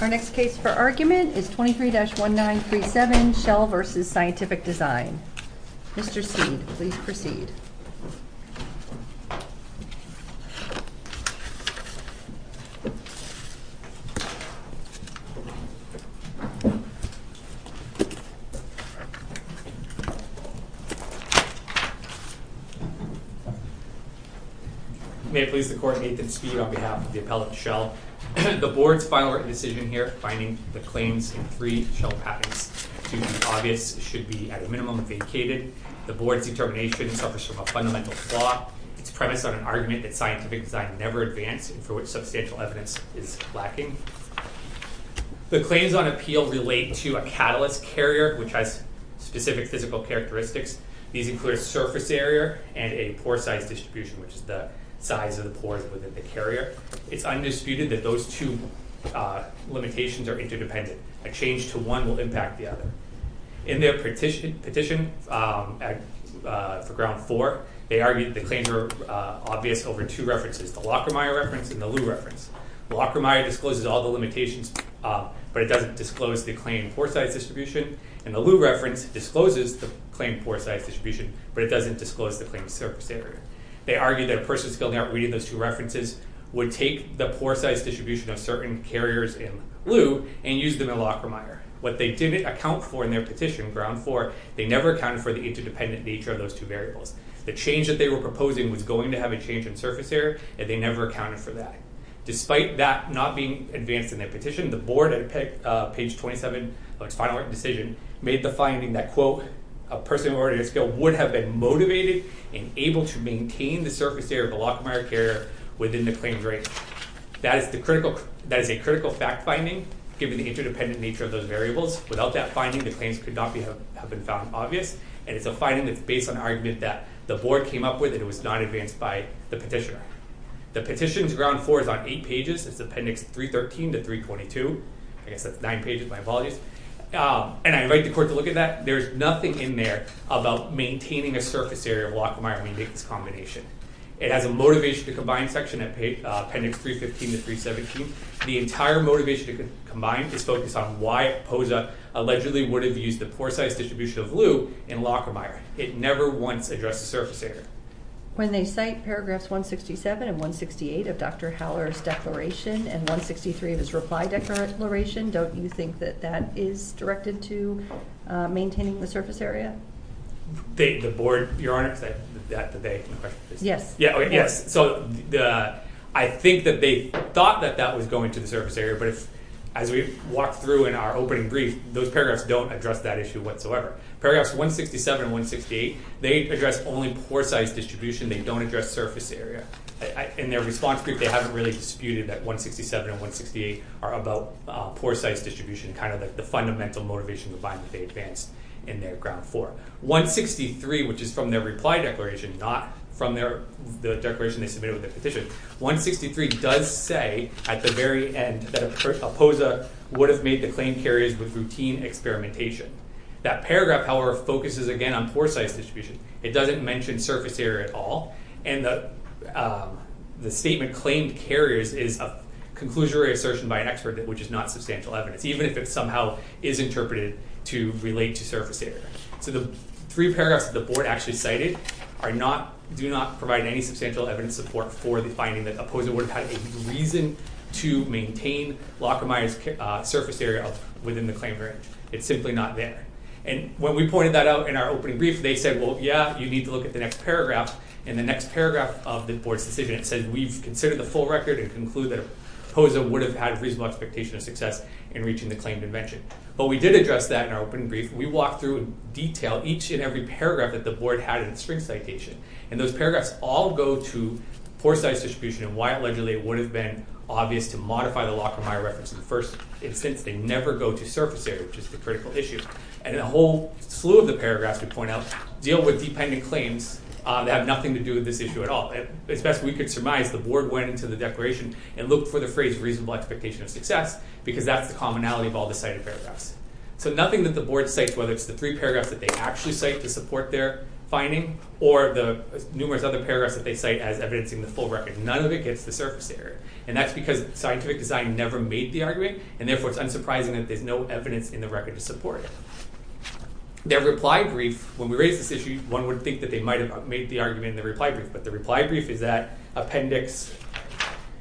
Our next case for argument is 23-1937, Shell v. Scientific Design. Mr. Speed, please proceed. May it please the Court, Nathan Speed on behalf of the appellant, Shell. The Board's final written decision here, finding the claims in three Shell patents to be obvious, should be at a minimum vacated. The Board's determination suffers from a fundamental flaw. It's premised on an argument that scientific design never advances and for which substantial evidence is lacking. The claims on appeal relate to a catalyst carrier which has specific physical characteristics. These include a surface area and a pore size distribution which is the size of the pores within the carrier. It's undisputed that those two limitations are interdependent. A change to one will impact the other. In their petition for ground four, they argued that the claims were obvious over two references, the Lockermeyer reference and the Liu reference. Lockermeyer discloses all the limitations but it doesn't disclose the claim pore size distribution and the Liu reference discloses the claim pore size distribution but it doesn't disclose the claim surface area. They argue that a person skilled at reading those two references would take the pore size distribution of certain carriers in Liu and use them in Lockermeyer. What they didn't account for in their petition, ground four, they never accounted for the interdependent nature of those two variables. The change that they were proposing was going to have a change in surface area and they never accounted for that. Despite that not being advanced in their petition, the Board at page 27 of its final written decision made the finding that quote, a person already at skill would have been motivated and able to maintain the surface area of a Lockermeyer carrier within the claimed range. That is a critical fact finding given the interdependent nature of those variables. Without that finding, the claims could not have been found obvious and it's a finding that's based on an argument that the Board came up with and it was not advanced by the petitioner. The petition's ground four is on eight pages. It's appendix 313 to 322. I guess that's nine pages, my apologies. And I invite the court to look at that. There's nothing in there about maintaining a surface area of Lockermeyer when you make this combination. It has a motivation to combine section at appendix 315 to 317. The entire motivation to combine is focused on why POZA allegedly would have used the poor size distribution of lube in Lockermeyer. It never once addressed the surface area. When they cite paragraphs 167 and 168 of Dr. Haller's declaration and 163 of his reply declaration, don't you think that that is directed to maintaining the surface area? The Board, Your Honor, is that the question? Yes. Yes. So I think that they thought that that was going to the surface area. But as we've walked through in our opening brief, those paragraphs don't address that issue whatsoever. Paragraphs 167 and 168, they address only poor size distribution. They don't address surface area. In their response brief, they haven't really disputed that 167 and 168 are about poor size distribution, kind of the fundamental motivation combined that they advanced in their ground four. 163, which is from their reply declaration, not from the declaration they submitted with the petition, 163 does say at the very end that a POZA would have made the claimed carriers with routine experimentation. That paragraph, however, focuses again on poor size distribution. It doesn't mention surface area at all. And the statement claimed carriers is a conclusionary assertion by an expert, which is not substantial evidence, even if it somehow is interpreted to relate to surface area. So the three paragraphs that the board actually cited do not provide any substantial evidence support for the finding that a POZA would have had a reason to maintain locomized surface area within the claim area. It's simply not there. And when we pointed that out in our opening brief, they said, well, yeah, you need to look at the next paragraph. In the next paragraph of the board's decision, it said, we've considered the full record and conclude that a POZA would have had a reasonable expectation of success in reaching the claimed invention. But we did address that in our opening brief. We walked through in detail each and every paragraph that the board had in its spring citation. And those paragraphs all go to poor size distribution and why, allegedly, it would have been obvious to modify the locomy reference in the first instance. They never go to surface area, which is the critical issue. And a whole slew of the paragraphs, we point out, deal with dependent claims that have nothing to do with this issue at all. As best we could surmise, the board went into the declaration and looked for the phrase reasonable expectation of success, because that's the commonality of all the cited paragraphs. So nothing that the board cites, whether it's the three paragraphs that they actually cite to support their finding, or the numerous other paragraphs that they cite as evidencing the full record. None of it gets to surface area. And that's because scientific design never made the argument. And therefore, it's unsurprising that there's no evidence in the record to support it. Their reply brief, when we raised this issue, one would think that they might have made the argument in the reply brief. But the reply brief is that Appendix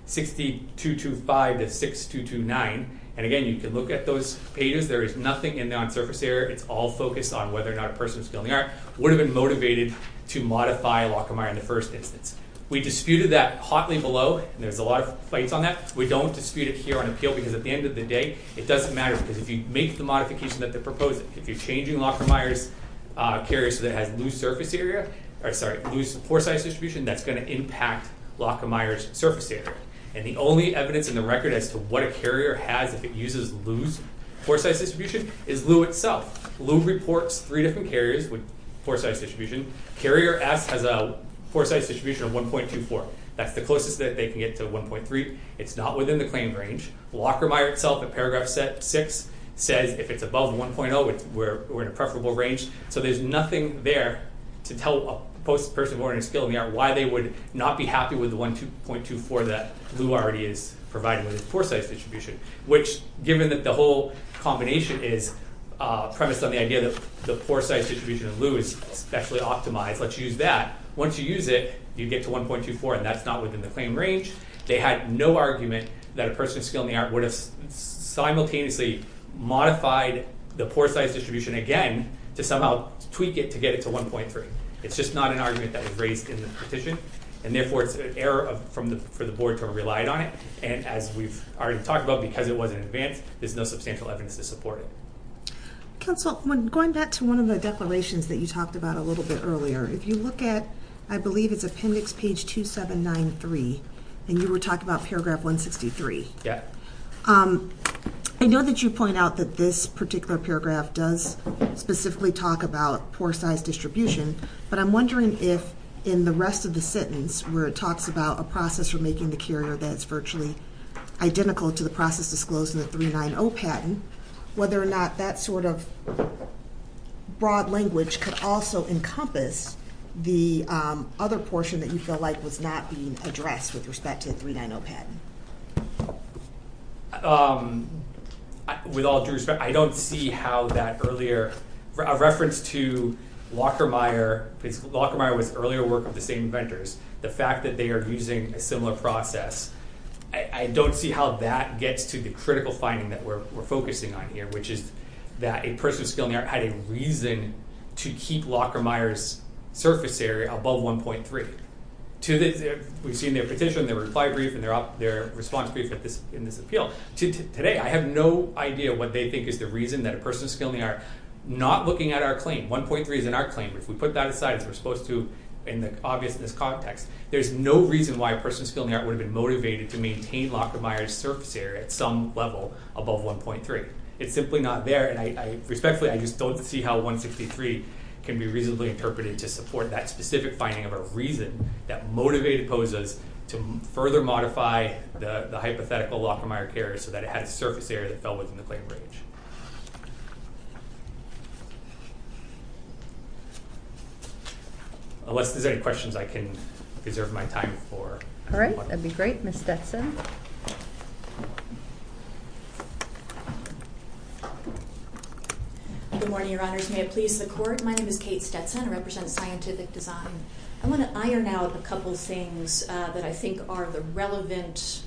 6225 to 6229, and again, you can look at those pages. There is nothing in there on surface area. It's all focused on whether or not a person who's killing the art would have been motivated to modify Lockermeyer in the first instance. We disputed that hotly below, and there's a lot of fights on that. We don't dispute it here on appeal, because at the end of the day, it doesn't matter, because if you make the modification that they're proposing, if you're changing Lockermeyer's carrier so that it has loose surface area, or sorry, loose pore size distribution, that's going to impact Lockermeyer's surface area. And the only evidence in the record as to what a carrier has if it uses loose pore size distribution is Loo itself. Loo reports three different carriers with pore size distribution. Carrier S has a pore size distribution of 1.24. That's the closest that they can get to 1.3. It's not within the claimed range. Lockermeyer itself, in paragraph 6, says if it's above 1.0, we're in a preferable range. So there's nothing there to tell a person who is ordering a skill in the art why they would not be happy with the 1.24 that Loo already is providing with its pore size distribution, which, given that the whole combination is premised on the idea that the pore size distribution of Loo is specially optimized, let's use that. Once you use it, you get to 1.24, and that's not within the claimed range. They had no argument that a person of skill in the art would have simultaneously modified the pore size distribution again to somehow tweak it to get it to 1.3. It's just not an argument that was raised in the petition. And therefore, it's an error for the board to have relied on it. And as we've already talked about, because it wasn't in advance, there's no substantial evidence to support it. Counsel, going back to one of the declarations that you talked about a little bit earlier, if you look at, I believe it's appendix page 2793, and you were talking about paragraph 163. I know that you point out that this particular paragraph does specifically talk about pore size distribution, but I'm wondering if, in the rest of the sentence, where it talks about a process for making the carrier that's virtually identical to the process disclosed in the 390 patent, whether or not that sort of broad language could also encompass the other portion that you feel like was not being addressed with respect to the 390 patent. With all due respect, I don't see how that earlier reference to Lockermeyer, because Lockermeyer was earlier work of the same inventors, the fact that they are using a similar process, I don't see how that gets to the critical finding that we're focusing on here, which is that a person of skill in the art had a reason to keep Lockermeyer's surface area above 1.3. We've seen their petition, their reply brief, and their response brief in this appeal. Today, I have no idea what they think is the reason that a person of skill in the art not looking at our claim. 1.3 is in our claim. If we put that aside, as we're supposed to in the obviousness context, there's no reason why a person of skill in the art would have been motivated to maintain Lockermeyer's surface area at some level above 1.3. It's simply not there. And respectfully, I just don't see how 163 can be reasonably interpreted to support that specific finding of a reason that motivated POSAs to further modify the hypothetical Lockermeyer carrier so that it had a surface area that was in the claim range. Unless there's any questions, I can reserve my time for questions. That'd be great. Ms. Stetson. Good morning, Your Honors. May it please the Court. My name is Kate Stetson. I represent Scientific Design. I want to iron out a couple of things that I think are the relevant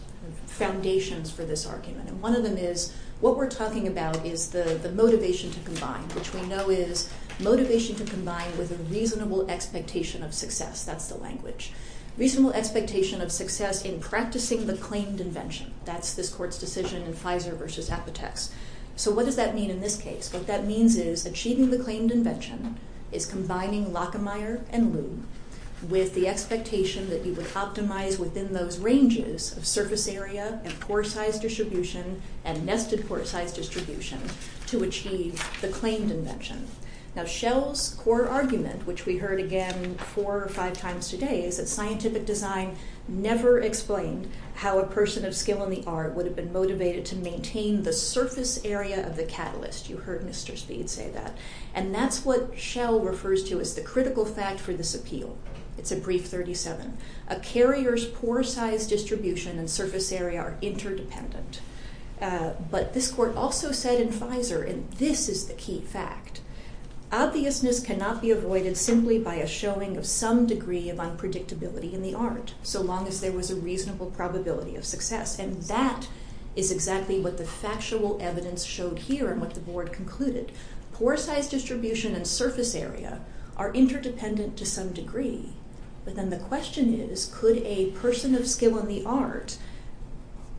foundations for this argument. And one of them is what we're talking about is the motivation to combine, which we know is motivation to combine with a reasonable expectation of success. That's the language. Reasonable expectation of success in practicing the claimed invention. That's this Court's decision in Fizer versus Apoteks. So what does that mean in this case? What that means is achieving the claimed invention is combining Lockermeyer and Lew with the expectation that you would optimize within those ranges of surface area and pore size distribution and nested pore size distribution to achieve the claimed invention. Now, Shell's core argument, which we heard again four or five times today, is that scientific design never explained how a person of skill in the art would have been motivated to maintain the surface area of the catalyst. You heard Mr. Speed say that. And that's what Shell refers to as the critical fact for this appeal. It's a brief 37. A carrier's pore size distribution and surface area are interdependent. But this Court also said in Fizer, and this is the key fact, obviousness cannot be avoided simply by a showing of some degree of unpredictability in the art, so long as there was a reasonable probability of success. And that is exactly what the factual evidence showed here and what the board concluded. Pore size distribution and surface area are interdependent to some degree. But then the question is, could a person of skill in the art,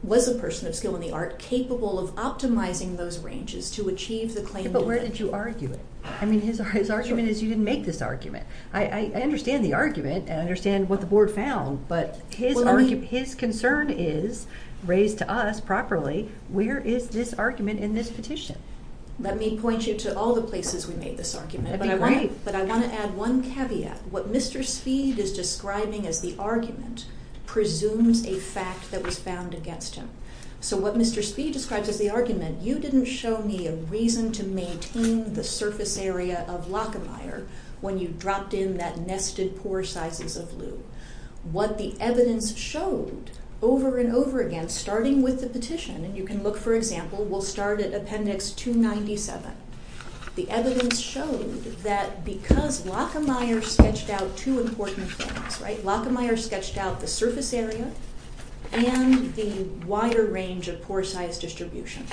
was a person of skill in the art capable of optimizing those ranges to achieve the claimed invention? But where did you argue it? I mean, his argument is you didn't make this argument. I understand the argument and I understand what the board found. But his concern is, raised to us properly, where is this argument in this petition? Let me point you to all the places we made this argument. That'd be great. But I want to add one caveat. What Mr. Speed is describing as the argument presumes a fact that was found against him. So what Mr. Speed describes as the argument, you didn't show me a reason to maintain the surface area of Lockermire when you dropped in that nested pore sizes of loo. What the evidence showed over and over again, starting with the petition, and you can look for example, we'll start at Appendix 297. The evidence showed that because Lockermire sketched out two important things, right? Lockermire sketched out the surface area and the wider range of pore size distribution.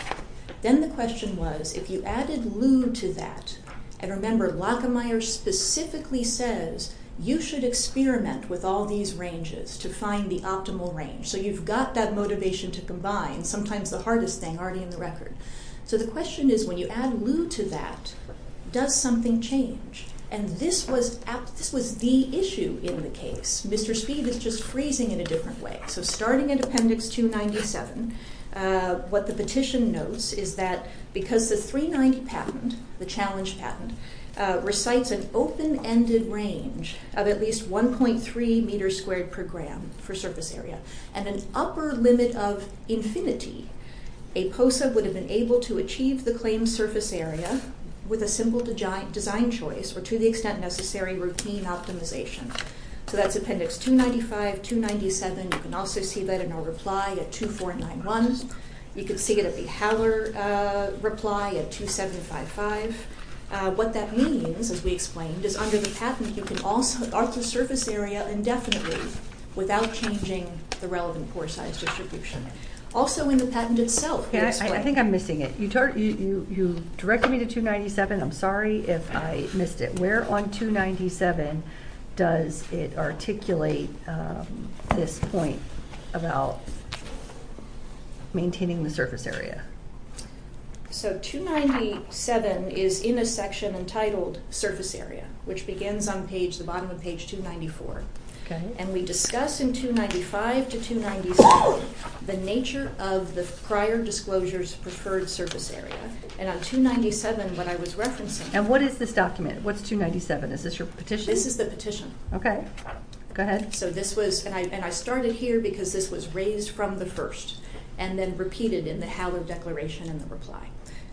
Then the question was, if you added loo to that, and remember, Lockermire specifically says you should experiment with all these ranges to find the optimal range. So you've got that motivation to combine, sometimes the hardest thing already in the record. So the question is, when you add loo to that, does something change? And this was the issue in the case. Mr. Speed is just phrasing in a different way. So starting at Appendix 297, what the petition notes is that because the 390 patent, the challenge patent, recites an open-ended range of at least 1.3 meters squared per gram for surface area, and an upper limit of infinity, a POSA would have been able to achieve the claimed surface area with a simple design choice, or to the extent necessary, routine optimization. So that's Appendix 295, 297. You can also see that in our reply at 2491. You can see it at the Haller reply at 2755. What that means, as we explained, is under the patent, you can also mark the surface area indefinitely without changing the relevant pore size distribution. Also in the patent itself, this way. I think I'm missing it. You directed me to 297. I'm sorry if I missed it. Where on 297 does it articulate this point about maintaining the surface area? So 297 is in a section entitled Surface Area, which begins on the bottom of page 294. And we discuss in 295 to 297 the nature of the prior disclosure's preferred surface area. And on 297, what I was referencing- And what is this document? What's 297? Is this your petition? This is the petition. OK. Go ahead. And I started here because this was raised from the first, and then repeated in the Haller declaration in the reply.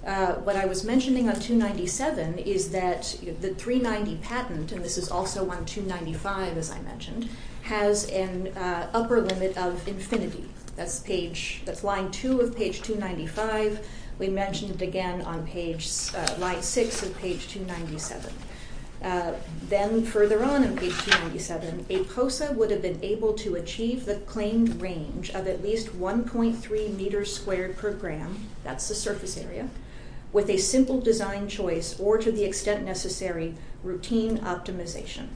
What I was mentioning on 297 is that the 390 patent, and this is also on 295, as I mentioned, has an upper limit of infinity. That's line 2 of page 295. We mentioned it again on line 6 of page 297. Then further on in page 297, a POSA would have been able to achieve the claimed range of at least 1.3 meters squared per gram. That's the surface area. With a simple design choice, or to the extent necessary, routine optimization.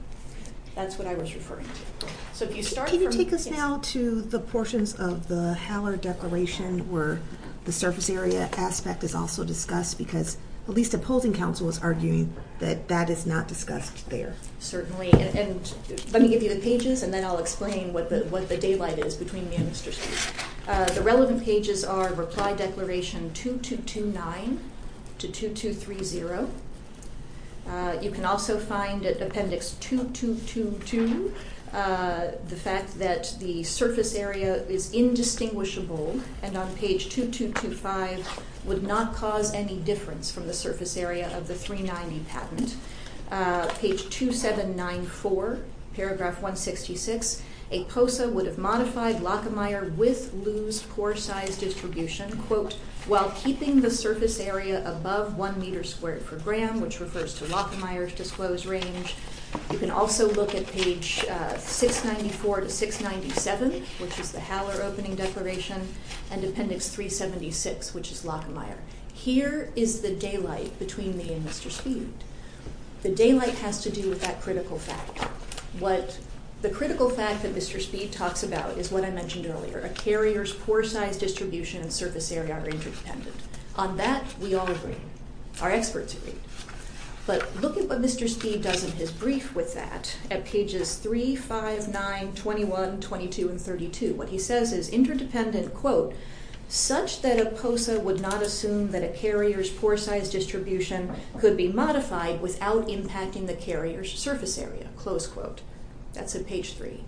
That's what I was referring to. So if you start from- Can you take us now to the portions of the Haller declaration where the surface area aspect is also discussed? Because at least the polling council was arguing that that is not discussed there. Certainly. And let me give you the pages, and then I'll explain what the daylight is between me and Mr. Spitz. The relevant pages are reply declaration 2229 to 2230. You can also find at appendix 2222 the fact that the surface area is indistinguishable. And on page 2225 would not cause any difference from the surface area of the 390 patent. Page 2794, paragraph 166, a POSA would have modified Lockermeyer with Lew's core size distribution, quote, while keeping the surface area above 1 meter squared per gram, which refers to Lockermeyer's disclosed range. You can also look at page 694 to 697, which is the Haller opening declaration, and appendix 376, which is Lockermeyer. Here is the daylight between me and Mr. Spitz. The daylight has to do with that critical fact. What the critical fact that Mr. Spitz talks about is what I mentioned earlier. A carrier's core size distribution and surface area are interdependent. On that, we all agree. Our experts agree. But look at what Mr. Spitz does in his brief with that at pages 359, 21, 22, and 32. What he says is interdependent, quote, such that a POSA would not assume that a carrier's core size distribution could be modified without impacting the carrier's surface area, close quote. That's at page 3.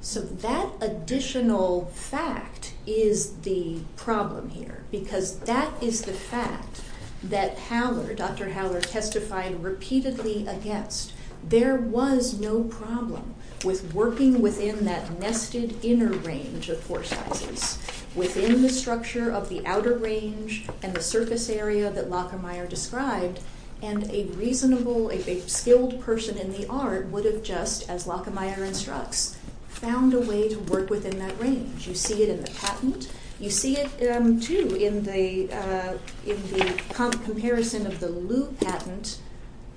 So that additional fact is the problem here, because that is the fact that Haller, Dr. Haller testified repeatedly against. There was no problem with working within that nested inner range of core sizes within the structure of the outer range and the surface area that Lockermeyer described, and a reasonable, a skilled person in the art would have just, as Lockermeyer instructs, found a way to work within that range. You see it in the patent. You see it, too, in the comparison of the Lew patent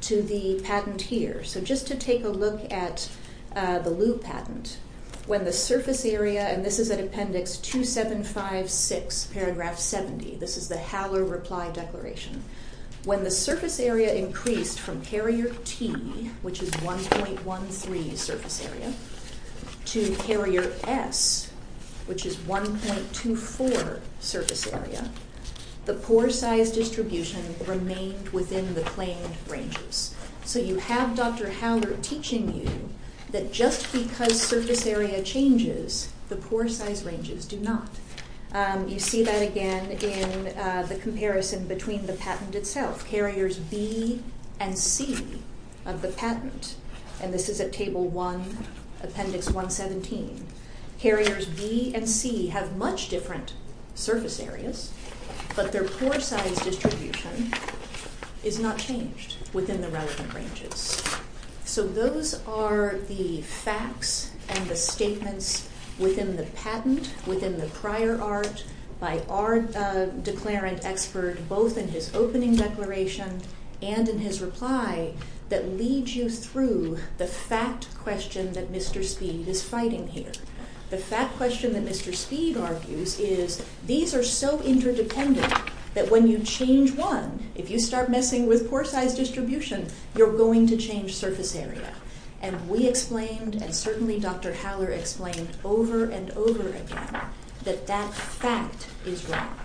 to the patent here. So just to take a look at the Lew patent, when the surface area, and this is at appendix 2756, paragraph 70. This is the Haller reply declaration. When the surface area increased from carrier T, which is 1.13 surface area, to carrier S, which is 1.24 surface area, the pore size distribution remained within the claimed ranges. So you have Dr. Haller teaching you that just because surface area changes, the pore size ranges do not. You see that again in the comparison between the patent itself, carriers B and C of the patent, and this is at table 1, appendix 117. Carriers B and C have much different surface areas, but their pore size distribution is not changed within the relevant ranges. So those are the facts and the statements within the patent, within the prior art, by our declarant expert, both in his opening declaration and in his reply, that lead you through the fact question that Mr. Speed is fighting here. The fact question that Mr. Speed argues is, these are so interdependent that when you change one, if you start messing with pore size distribution, you're going to change surface area. And we explained, and certainly Dr. Haller explained over and over again, that that fact is wrong.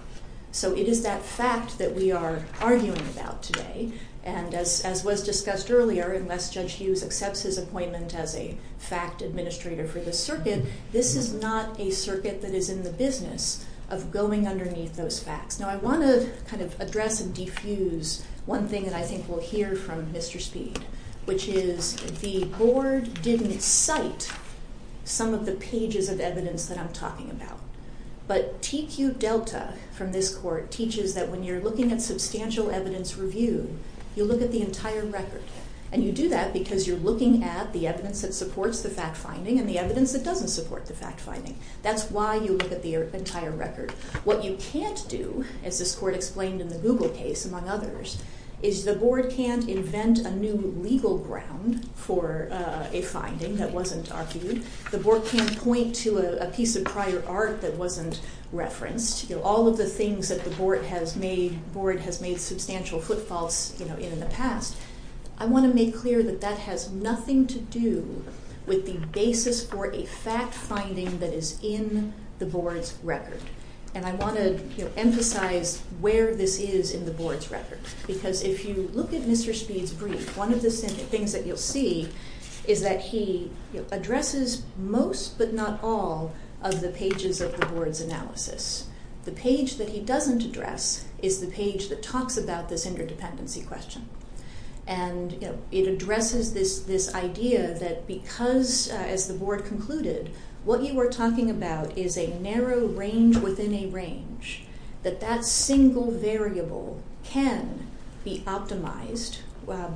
So it is that fact that we are arguing about today, and as was discussed earlier, unless Judge Hughes accepts his appointment as a fact administrator for the circuit, this is not a circuit that is in the business of going underneath those facts. Now I want to kind of address and diffuse one thing that I think we'll hear from Mr. Speed, which is the board didn't cite some of the pages of evidence that I'm talking about. But TQ Delta from this court teaches that when you're looking at substantial evidence review, you look at the entire record, and you do that because you're looking at the evidence that supports the fact finding and the evidence that doesn't support the fact finding. That's why you look at the entire record. What you can't do, as this court explained in the Google case, among others, is the board can't invent a new legal ground for a finding that wasn't argued. The board can't point to a piece of prior art that wasn't referenced. You know, all of the things that the board has made, board has made substantial footfalls, you know, in the past. I want to make clear that that has nothing to do with the basis for a fact finding that is in the board's record. And I want to emphasize where this is in the board's record. Because if you look at Mr. Speed's brief, one of the things that you'll see is that he addresses most but not all of the pages of the board's analysis. The page that he doesn't address is the page that talks about this interdependency question. And it addresses this idea that because, as the board concluded, what you were talking about is a narrow range within a range, that that single variable can be optimized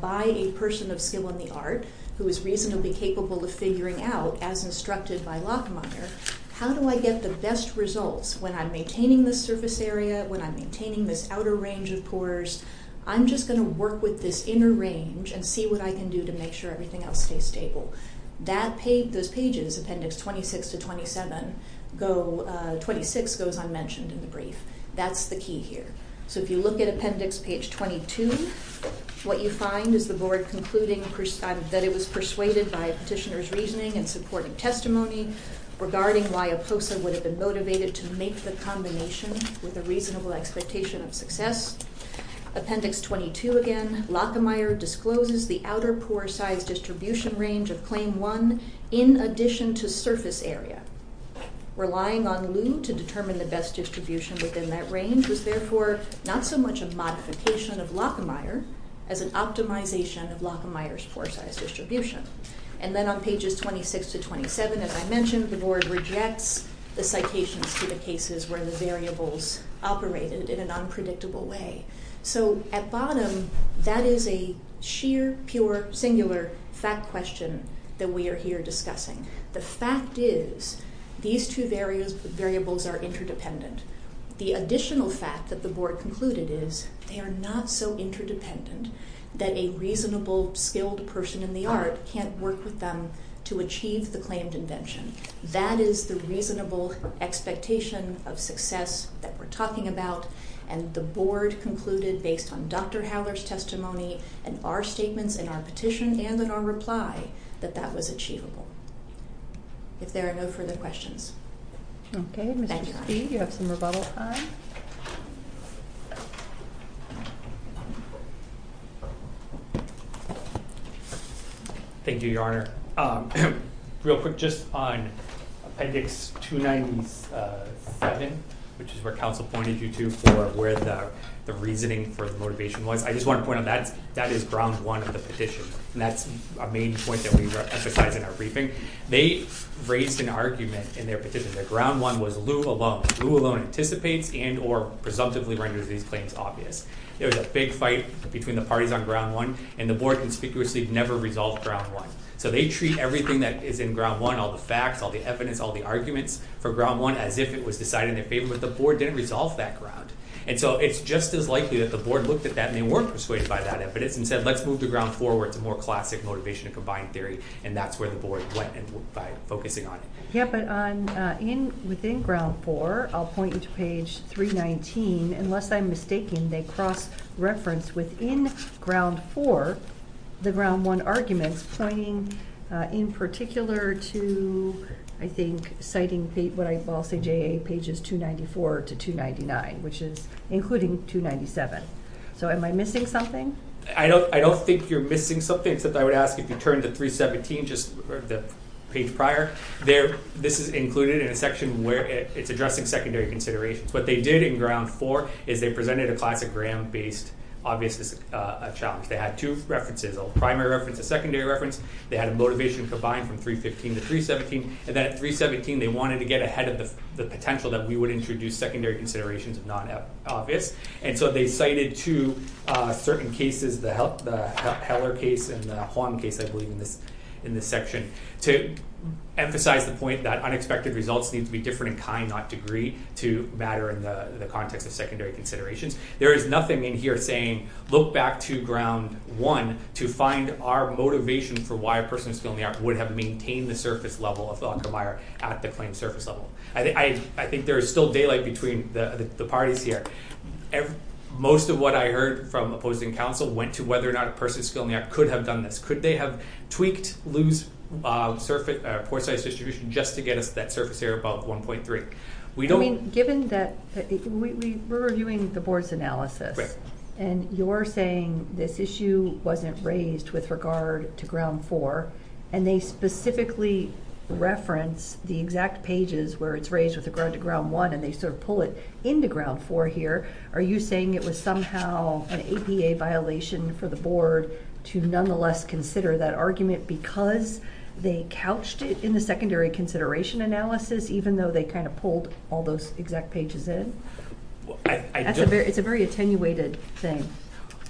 by a person of skill in the art who is reasonably capable of figuring out, as instructed by Lockmeyer, how do I get the best results when I'm maintaining this surface area, when I'm maintaining this outer range of course. I'm just going to work with this inner range and see what I can do to make sure everything else stays stable. That page, those pages, appendix 26 to 27, go, 26 goes unmentioned in the brief. That's the key here. So if you look at appendix page 22, what you find is the board concluding that it was persuaded by a petitioner's reasoning and supporting testimony regarding why a POSA would have been motivated to make the combination with a reasonable expectation of success. Appendix 22 again, Lockmeyer discloses the outer pore size distribution range of claim one in addition to surface area. Relying on loom to determine the best distribution within that range was therefore not so much a modification of Lockmeyer as an optimization of Lockmeyer's pore size distribution. And then on pages 26 to 27, as I mentioned, the board rejects the citations to the cases where the variables operated in an unpredictable way. So at bottom, that is a sheer, pure, singular fact question that we are here discussing. The fact is these two variables are interdependent. The additional fact that the board concluded is they are not so interdependent that a reasonable, skilled person in the art can't work with them to achieve the claimed invention. That is the reasonable expectation of success that we're talking about. And the board concluded based on Dr. Howler's testimony and our statements in our petition and in our reply that that was achievable. If there are no further questions. Okay, Mr. Speed, you have some rebuttal time. Thank you, Your Honor. Real quick, just on Appendix 297, which is where counsel pointed you to for where the reasoning for the motivation was, I just want to point out, that is ground one of the petition. And that's a main point that we emphasize in our briefing. They raised an argument in their petition. Their ground one was Lou alone. And they said that ground one anticipates and or presumptively renders these claims obvious. There was a big fight between the parties on ground one, and the board conspicuously never resolved ground one. So they treat everything that is in ground one, all the facts, all the evidence, all the arguments for ground one as if it was decided in their favor. But the board didn't resolve that ground. And so it's just as likely that the board looked at that and they weren't persuaded by that evidence and said let's move the ground forward to more classic motivation and combined theory. And that's where the board went by focusing on it. Yeah, but within ground four, I'll point you to page 319. Unless I'm mistaken, they cross-referenced within ground four, the ground one arguments, pointing in particular to, I think, citing what I will say, JA pages 294 to 299, which is including 297. So am I missing something? I don't think you're missing something, except I would ask if you turn to 317, just the page prior. This is included in a section where it's addressing secondary considerations. What they did in ground four is they presented a classic gram-based obvious challenge. They had two references, a primary reference, a secondary reference. They had a motivation combined from 315 to 317. And then at 317, they wanted to get ahead of the potential that we would introduce secondary considerations non-obvious. And so they cited two certain cases, the Heller case and the Huang case, I believe, in this section. To emphasize the point that unexpected results need to be different in kind, not degree, to matter in the context of secondary considerations. There is nothing in here saying, look back to ground one to find our motivation for why a person with a skill in the art would have maintained the surface level of Volckemeier at the claimed surface level. I think there is still daylight between the parties here. Most of what I heard from opposing counsel went to whether or not a person with a skill in the art could have done this. Could they have tweaked Lew's pore size distribution just to get us to that surface area above 1.3? We don't- Given that we're reviewing the board's analysis, and you're saying this issue wasn't raised with regard to ground four, and they specifically reference the exact pages where it's raised with regard to ground one and they sort of pull it into ground four here. Are you saying it was somehow an APA violation for the board to nonetheless consider that argument because they couched it in the secondary consideration analysis, even though they kind of pulled all those exact pages in? It's a very attenuated thing.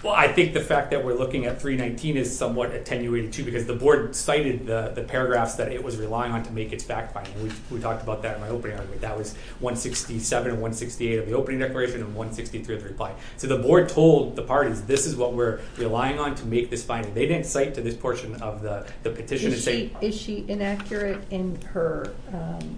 Well, I think the fact that we're looking at 319 is somewhat attenuated too, because the board cited the paragraphs that it was relying on to make its fact finding. We talked about that in my opening argument. That was 167 and 168 of the opening declaration and 163 of the reply. So the board told the parties, this is what we're relying on to make this finding. They didn't cite to this portion of the petition. Is she inaccurate in her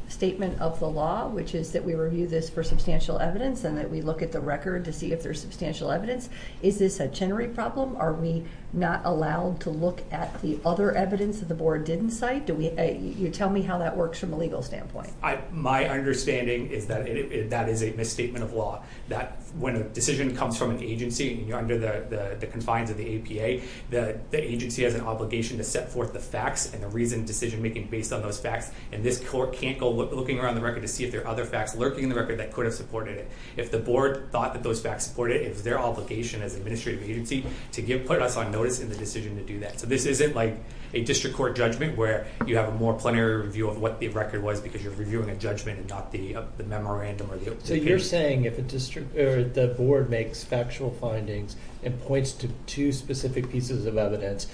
statement of the law, which is that we review this for substantial evidence and that we look at the record to see if there's substantial evidence? Is this a Chenery problem? Are we not allowed to look at the other evidence that the board didn't cite? You tell me how that works from a legal standpoint. My understanding is that that is a misstatement of law, that when a decision comes from an agency under the confines of the APA, the agency has an obligation to set forth the facts and the reason decision-making based on those facts. And this court can't go looking around the record to see if there are other facts lurking in the record that could have supported it. If the board thought that those facts supported it, it was their obligation as administrative agency to put us on notice in the decision to do that. So this isn't like a district court judgment where you have a more plenary review of what the record was because you're reviewing a judgment and not the memorandum or the opinion. So you're saying if the board makes factual findings and points to two specific pieces of evidence,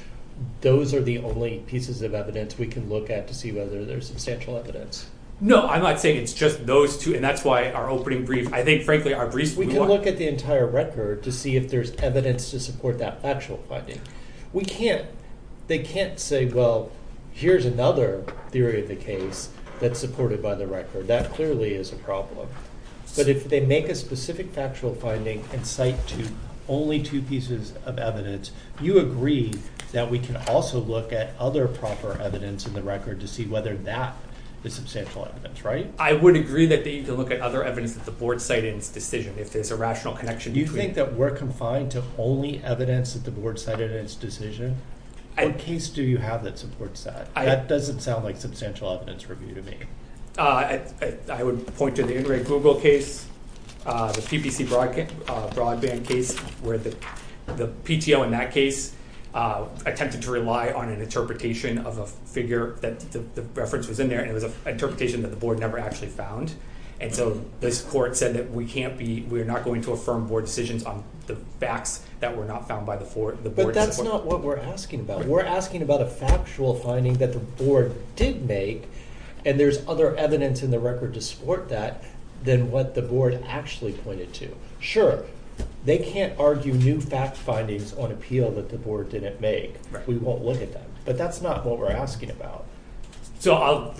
those are the only pieces of evidence we can look at to see whether there's substantial evidence? No, I'm not saying it's just those two and that's why our opening brief, I think, frankly, our briefs... We can look at the entire record to see if there's evidence to support that factual finding. We can't, they can't say, well, here's another theory of the case that's supported by the record. That clearly is a problem. But if they make a specific factual finding and cite to only two pieces of evidence, you agree that we can also look at other proper evidence in the record to see whether that is substantial evidence, right? I would agree that they need to look at other evidence that the board cited in its decision if there's a rational connection between... You think that we're confined to only evidence that the board cited in its decision? What case do you have that supports that? That doesn't sound like substantial evidence review to me. I would point to the In Re Google case, the PPC Broadband case, where the PTO in that case attempted to rely on an interpretation of a figure that the reference was in there and it was an interpretation that the board never actually found. And so this court said that we can't be... We're not going to affirm board decisions on the facts that were not found by the board. But that's not what we're asking about. We're asking about a factual finding that the board did make and there's other evidence in the record to support that than what the board actually pointed to. Sure, they can't argue new fact findings on appeal that the board didn't make. We won't look at that, but that's not what we're asking about. So I'll...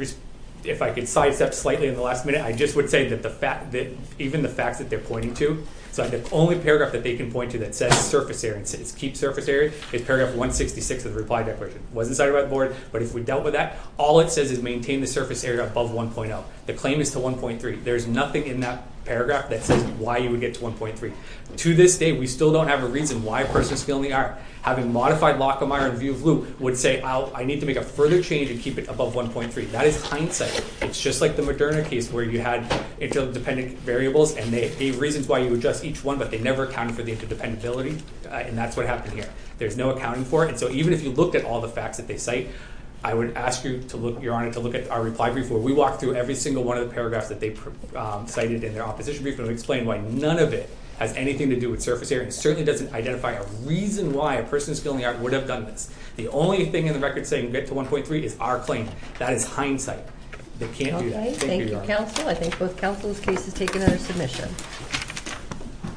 If I could sidestep slightly in the last minute, I just would say that even the facts that they're pointing to... So the only paragraph that they can point to that says surface area and says keep surface area is paragraph 166 of the reply declaration. It wasn't cited by the board, but if we dealt with that, all it says is maintain the surface area above 1.0. The claim is to 1.3. There's nothing in that paragraph that says why you would get to 1.3. To this day, we still don't have a reason why a person is feeling the ire. Having modified Lockemeyer in view of Lew would say, oh, I need to make a further change and keep it above 1.3. That is hindsight. It's just like the Moderna case where you had interdependent variables and they gave reasons why you adjust each one, but they never accounted for the interdependent ability. And that's what happened here. There's no accounting for it. And so even if you looked at all the facts that they cite, I would ask you to look, Your Honor, to look at our reply brief where we walk through every single one of the paragraphs that they cited in their opposition brief and explain why none of it has anything to do with surface area. It certainly doesn't identify a reason why a person is feeling the ire would have done this. The only thing in the record saying get to 1.3 is our claim. That is hindsight. They can't do that. Thank you, Your Honor. Okay. Thank you, counsel. I think both counsel's cases take another submission.